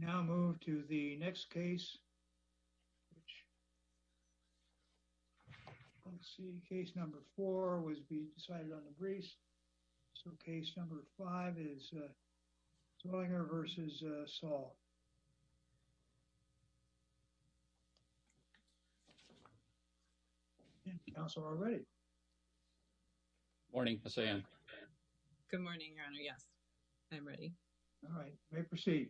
Now move to the next case, which let's see, case number four was being decided on the briefs. So case number five is Zellweger v. Saul. Council are ready. Morning. Good morning, Your Honor. Yes, I'm ready. All right. You may proceed.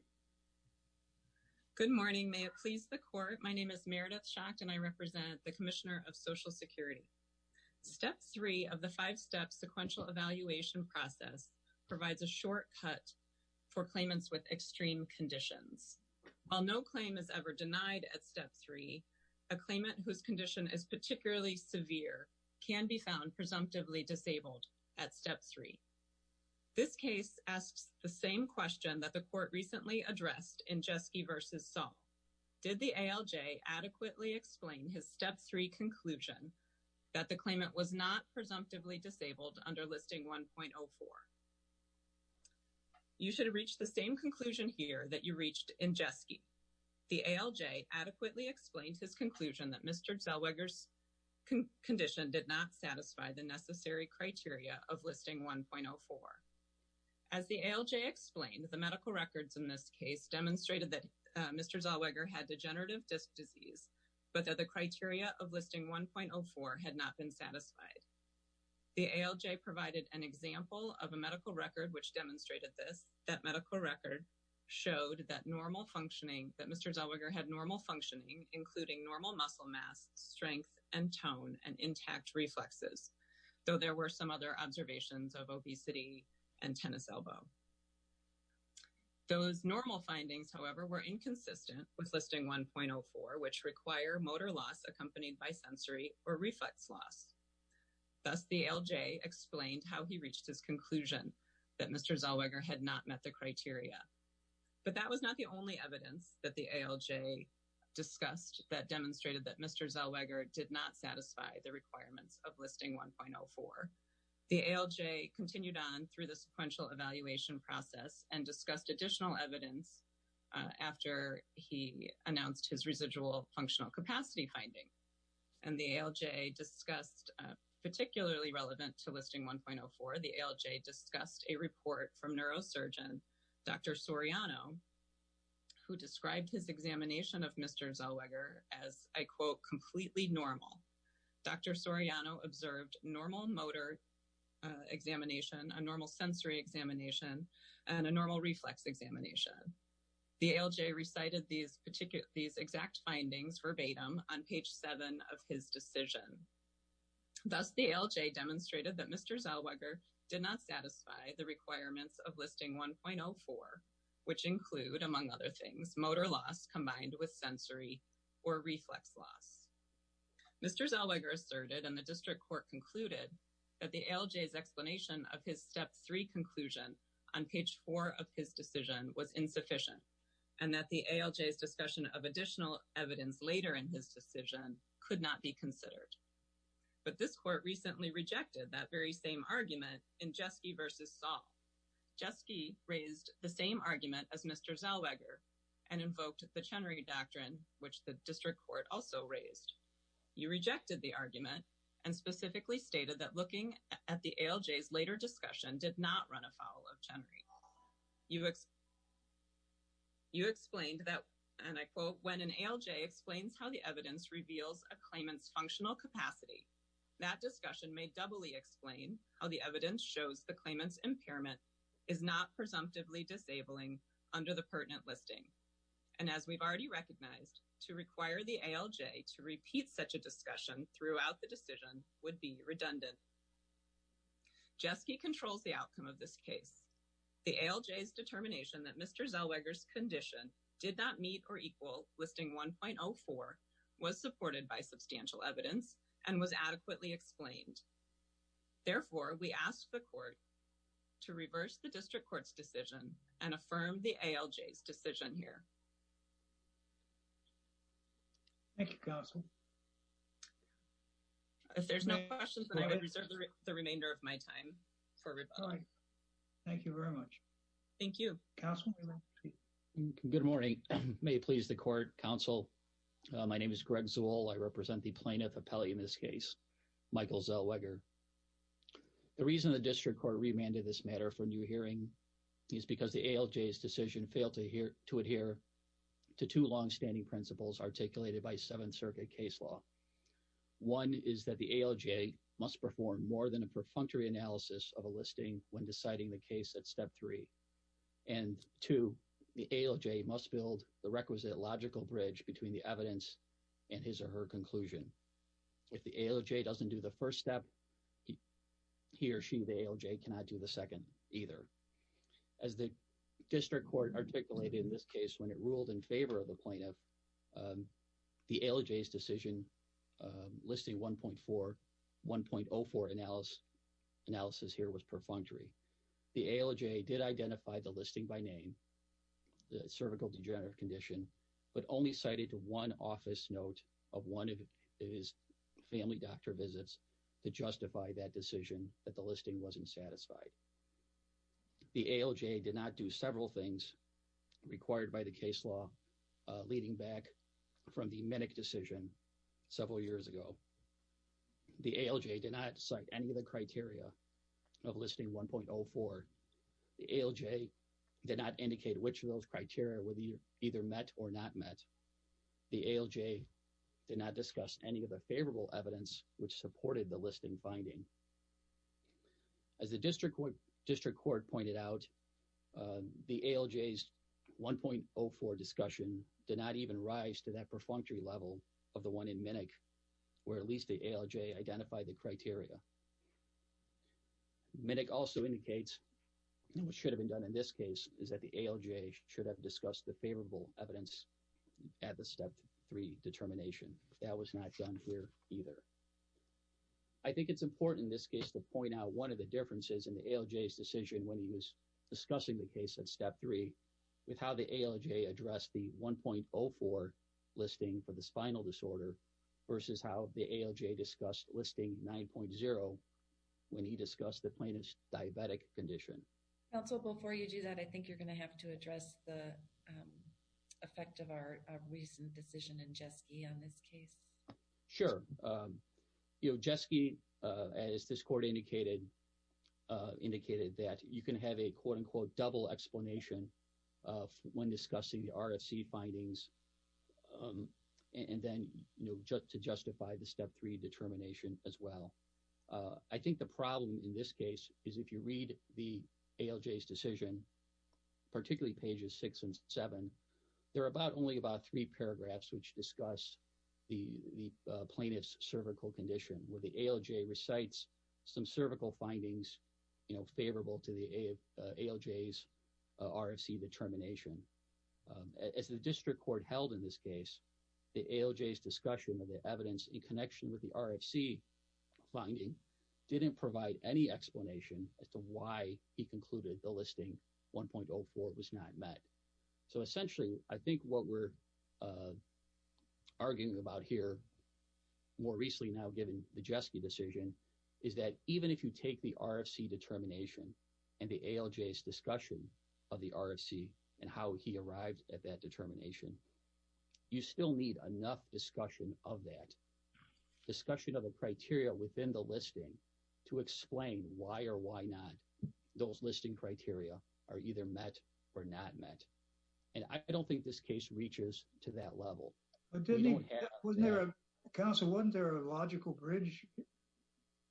Good morning. May it please the Court. My name is Meredith Schacht, and I represent the Commissioner of Social Security. Step three of the five-step sequential evaluation process provides a shortcut for claimants with extreme conditions. While no claim is ever denied at step three, a claimant whose condition is particularly severe can be found presumptively disabled at step three. This case asks the same question that the Court recently addressed in Jeske v. Saul. Did the ALJ adequately explain his step three conclusion that the claimant was not presumptively disabled under Listing 1.04? You should have reached the same conclusion here that you reached in Jeske. The ALJ adequately explained his conclusion that Mr. Zellweger's condition did not satisfy the necessary criteria of Listing 1.04. As the ALJ explained, the medical records in this case demonstrated that Mr. Zellweger had degenerative disc disease, but that the criteria of Listing 1.04 had not been satisfied. The ALJ provided an example of a medical record which demonstrated this. That medical record showed that normal functioning, that Mr. Zellweger had normal functioning, including normal muscle mass, strength, and tone, and intact reflexes, though there were some other observations of obesity and tennis elbow. Those normal findings, however, were inconsistent with Listing 1.04, which require motor loss accompanied by sensory or reflex loss. Thus, the ALJ explained how he reached his conclusion that Mr. Zellweger had not met the criteria. But that was not the only evidence that the ALJ discussed that demonstrated that Mr. Zellweger did not satisfy the requirements of Listing 1.04. The ALJ continued on through the sequential evaluation process and discussed additional evidence after he announced his residual functional capacity finding. And the ALJ discussed, particularly relevant to Listing 1.04, the ALJ discussed a report from neurosurgeon Dr. Soriano, who described his examination of Mr. Zellweger as, I quote, completely normal. Dr. Soriano observed normal motor examination, a normal sensory examination, and a normal reflex examination. The ALJ recited these exact findings verbatim on page 7 of his decision. Thus, the ALJ demonstrated that Mr. Zellweger did not satisfy the requirements of Listing 1.04, which include, among other things, motor loss combined with sensory or reflex loss. Mr. Zellweger asserted, and the district court concluded, that the ALJ's explanation of his Step 3 conclusion on page 4 of his decision was insufficient and that the ALJ's discussion of additional evidence later in his decision could not be considered. But this court recently rejected that very same argument in Jeske versus Saul. Jeske raised the same argument as Mr. Zellweger and invoked the Chenry Doctrine, which the district court also raised. You rejected the argument and specifically stated that looking at the ALJ's later discussion did not run afoul of Chenry. You explained that, and I quote, when an ALJ explains how the evidence reveals a claimant's functional capacity, that discussion may doubly explain how the evidence shows the claimant's impairment is not presumptively disabling under the pertinent listing. And as we've already recognized, to require the ALJ to repeat such a discussion throughout the decision would be redundant. Jeske controls the outcome of this case. The ALJ's determination that Mr. Zellweger's condition did not meet or equal listing 1.04 was supported by substantial evidence and was adequately explained. Therefore, we ask the court to reverse the district court's decision and affirm the ALJ's decision here. Thank you, Counsel. If there's no questions, then I would reserve the remainder of my time for rebuttal. Thank you very much. Thank you. Counsel? Good morning. May it please the court, Counsel. My name is Greg Zewall. I represent the plaintiff appellee in this case, Michael Zellweger. The reason the district court remanded this matter for new hearing is because the ALJ's decision failed to adhere to two longstanding principles articulated by Seventh Circuit case law. One is that the ALJ must perform more than a perfunctory analysis of a listing when deciding the case at Step 3. And two, the ALJ must build the requisite logical bridge between the evidence and his or her conclusion. If the ALJ doesn't do the first step, he or she, the ALJ, cannot do the second either. As the district court articulated in this case when it ruled in favor of the plaintiff, the ALJ's decision listing 1.4, 1.04 analysis here was perfunctory. The ALJ did identify the listing by name, the cervical degenerative condition, but only cited one office note of one of his family doctor visits to justify that decision that the listing wasn't satisfied. The ALJ did not do several things required by the case law leading back from the Minick decision several years ago. The ALJ did not cite any of the criteria of listing 1.04. The ALJ did not indicate which of those criteria were either met or not met. The ALJ did not discuss any of the favorable evidence which supported the listing finding. As the district court pointed out, the ALJ's 1.04 discussion did not even rise to that perfunctory level of the one in Minick where at least the ALJ identified the criteria. Minick also indicates what should have been done in this case is that the ALJ should have discussed the favorable evidence at the step three determination. That was not done here either. I think it's important in this case to point out one of the differences in the ALJ's decision when he was discussing the case at step three with how the ALJ addressed the 1.04 listing for the spinal disorder versus how the ALJ discussed listing 9.0 when he discussed the plaintiff's diabetic condition. Council, before you do that, I think you're going to have to address the effect of our recent decision in Jeske on this case. Sure. You know, Jeske, as this court indicated, indicated that you can have a quote-unquote double explanation when discussing the RFC findings and then, you know, to justify the step three determination as well. I think the problem in this case is if you read the ALJ's decision, particularly pages 6 and 7, there are only about three paragraphs which discuss the plaintiff's cervical condition where the ALJ recites some cervical findings, you know, favorable to the ALJ's RFC determination. As the district court held in this case, the ALJ's discussion of the evidence in connection with the RFC finding didn't provide any explanation as to why he concluded the listing 1.04 was not met. So, essentially, I think what we're arguing about here, more recently now given the Jeske decision, is that even if you take the RFC determination and the ALJ's discussion of the RFC and how he arrived at that determination, you still need enough discussion of that, discussion of the criteria within the listing to explain why or why not those listing criteria are either met or not met. And I don't think this case reaches to that level. We don't have... Wasn't there a... Counsel, wasn't there a logical bridge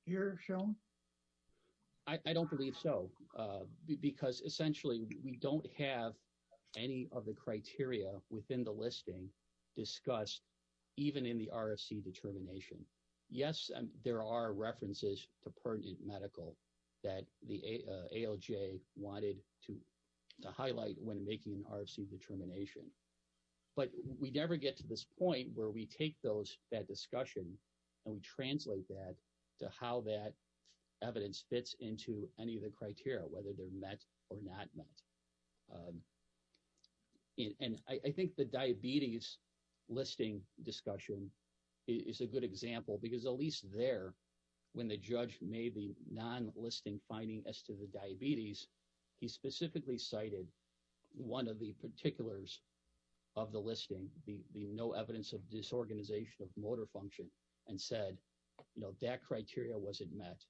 here shown? I don't believe so. Because, essentially, we don't have any of the criteria within the listing discussed even in the RFC determination. Yes, there are references to pertinent medical that the ALJ wanted to highlight when making an RFC determination, but we never get to this point where we take that discussion and we translate that to how that evidence fits into any of the criteria, whether they're met or not met. And I think the diabetes listing discussion is a good example because, at least there, when the judge made the non-listing finding as to the diabetes, he specifically cited one of the particulars of the listing, the no evidence of disorganization of motor function, and said, you know, that criteria wasn't met.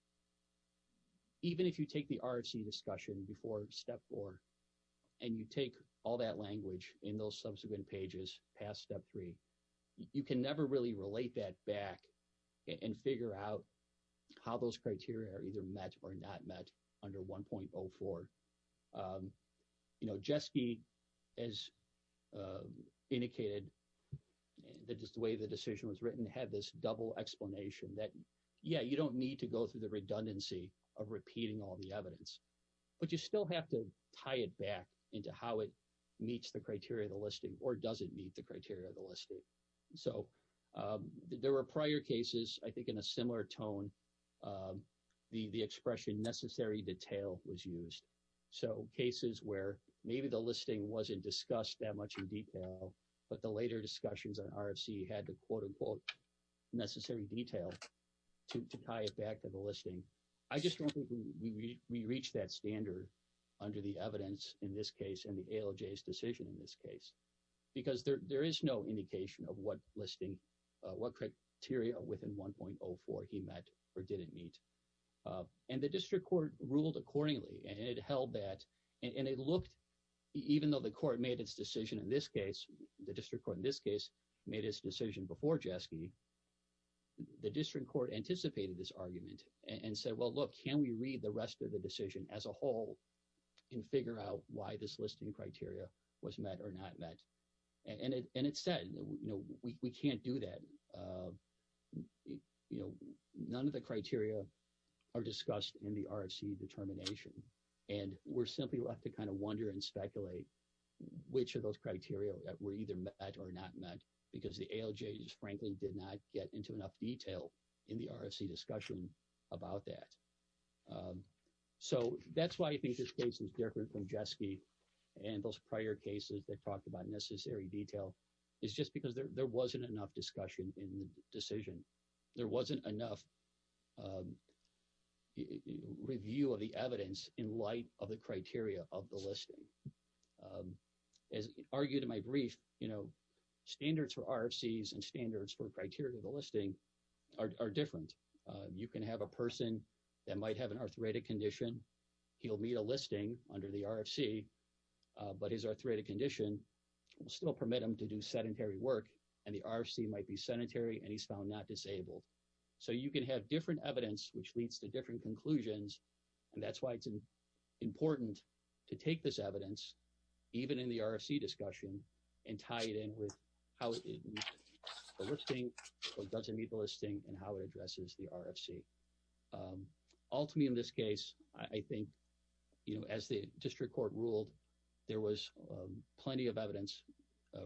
Even if you take the RFC discussion before Step 4 and you take all that language in those subsequent pages past Step 3, you can never really relate that back and figure out how those criteria are either met or not met under 1.04. You know, Jeske has indicated that just the way the decision was written had this double explanation that, yeah, you don't need to go through the redundancy of repeating all the evidence, but you still have to tie it back into how it meets the criteria of the listing or doesn't meet the criteria of the listing. So, there were prior cases, I think in a similar tone, the expression necessary detail was used. So, cases where maybe the listing wasn't discussed that much in detail, but the later discussions on RFC had the, quote, unquote, necessary detail to tie it back to the listing. I just don't think we reached that standard under the evidence in this case and the ALJ's decision in this case, because there is no indication of what criteria within 1.04 he met or didn't meet. And the district court ruled accordingly, and it held that, and it looked, even though the court made its decision in this case, the district court in this case made its decision before Jeske, the district court anticipated this argument and said, well, look, can we read the rest of the decision as a whole and figure out why this listing criteria was met or not met? And it said, you know, we can't do that. You know, none of the criteria are discussed in the RFC determination, and we're simply going to have to kind of wonder and speculate which of those criteria were either met or not met, because the ALJ, frankly, did not get into enough detail in the RFC discussion about that. So, that's why I think this case is different from Jeske and those prior cases that talked about necessary detail. It's just because there wasn't enough discussion in the decision. There wasn't enough review of the evidence in light of the criteria of the listing. As argued in my brief, you know, standards for RFCs and standards for criteria of the listing are different. You can have a person that might have an arthritic condition, he'll meet a listing under the RFC, but his arthritic condition will still permit him to do sedentary work, and the RFC might be sedentary, and he's found not disabled. So, you can have different evidence, which leads to different conclusions, and that's why it's important to take this evidence, even in the RFC discussion, and tie it in with how it meets the listing or doesn't meet the listing and how it addresses the RFC. Ultimately, in this case, I think, you know, as the district court ruled, there was plenty of evidence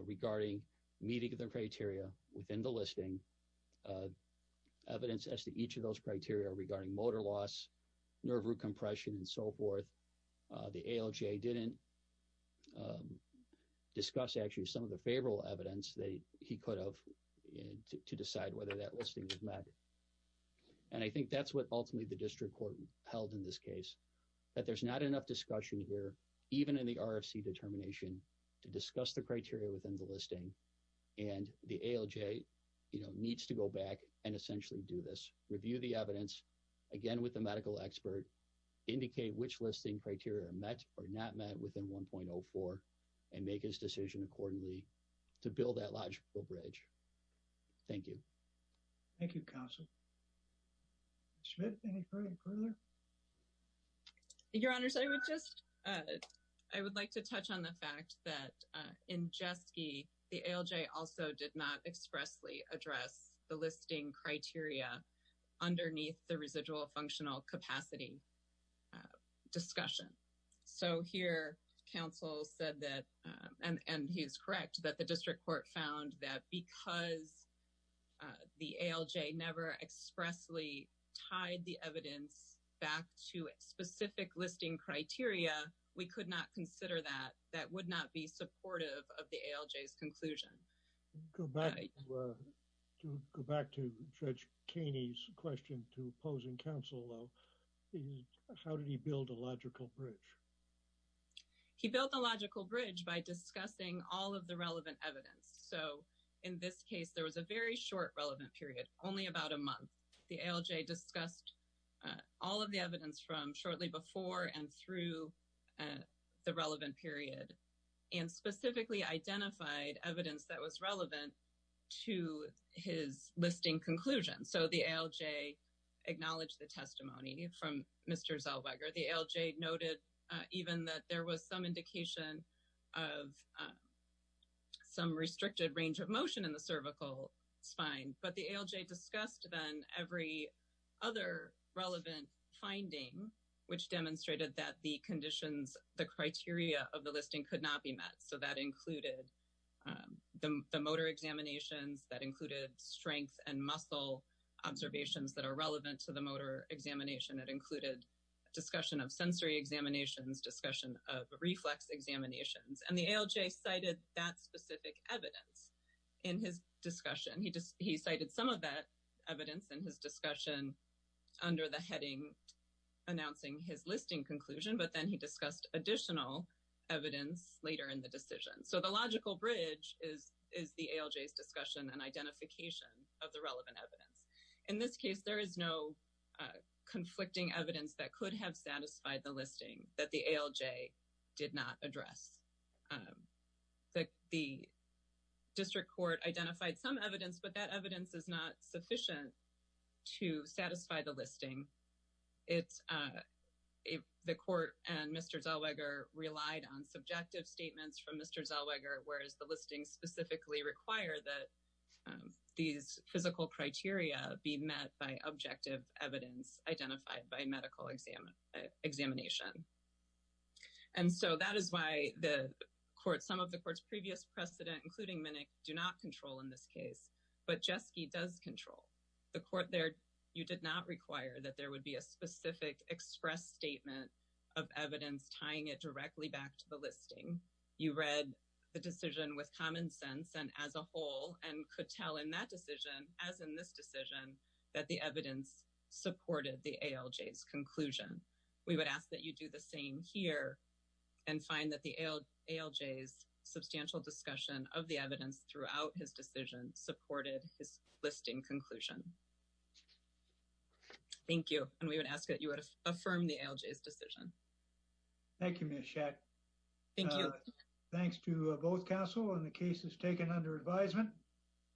regarding meeting the criteria within the listing, evidence as to each of those criteria regarding motor loss, nerve root compression, and so forth. The ALJ didn't discuss, actually, some of the favorable evidence that he could have to decide whether that listing was met, and I think that's what ultimately the district court held in this case, that there's not enough discussion here, even in the RFC determination, to discuss the criteria within the listing, and the ALJ, you know, needs to go back and essentially do this, review the evidence, again, with the medical expert, indicate which listing criteria are met or not met within 1.04, and make his decision accordingly to build that logical bridge. Thank you. Thank you, counsel. Schmidt, any further? Your Honors, I would just, I would like to touch on the fact that in Jeske, the ALJ also did not expressly address the listing criteria underneath the residual functional capacity discussion. So, here, counsel said that, and he is correct, that the district court found that because the ALJ never expressly tied the evidence back to specific listing criteria, we could not consider that. That would not be supportive of the ALJ's conclusion. Go back to Judge Kaney's question to opposing counsel, how did he build a logical bridge? He built a logical bridge by discussing all of the relevant evidence. So, in this case, there was a very short relevant period, only about a month. The ALJ discussed all of the evidence from shortly before and through the relevant period, and specifically identified evidence that was relevant to his listing conclusion. So, the ALJ acknowledged the testimony from Mr. Zellweger. The ALJ noted even that there was some indication of some restricted range of motion in the cervical spine, but the ALJ discussed then every other relevant finding, which demonstrated that the conditions, the criteria of the listing could not be met. So, that included the motor examinations, that included strength and muscle observations that are relevant to the motor examination, that included discussion of sensory examinations, discussion of reflex examinations, and the ALJ cited that specific evidence in his discussion. He cited some of that evidence in his discussion under the heading announcing his listing conclusion, but then he discussed additional evidence later in the decision. So, the logical bridge is the ALJ's discussion and identification of the relevant evidence. In this case, there is no conflicting evidence that could have satisfied the listing that the ALJ did not address. The district court identified some evidence, but that evidence is not sufficient to satisfy the listing. The court and Mr. Zellweger relied on subjective statements from Mr. Zellweger, whereas the listing specifically required that these physical criteria be met by objective evidence identified by medical examination. And so, that is why the court, some of the court's previous precedent, including Minick, do not control in this case, but Jeske does control. The court there, you did not require that there would be a specific express statement of evidence tying it directly back to the listing. You read the decision with common sense and as a whole and could tell in that decision, as in this decision, that the evidence supported the ALJ's conclusion. We would ask that you do the same here and find that the ALJ's substantial discussion of the evidence throughout his decision supported his listing conclusion. Thank you. And we would ask that you would affirm the ALJ's decision. Thank you, Ms. Schacht. Thank you. Thanks to both counsel on the cases taken under advisement.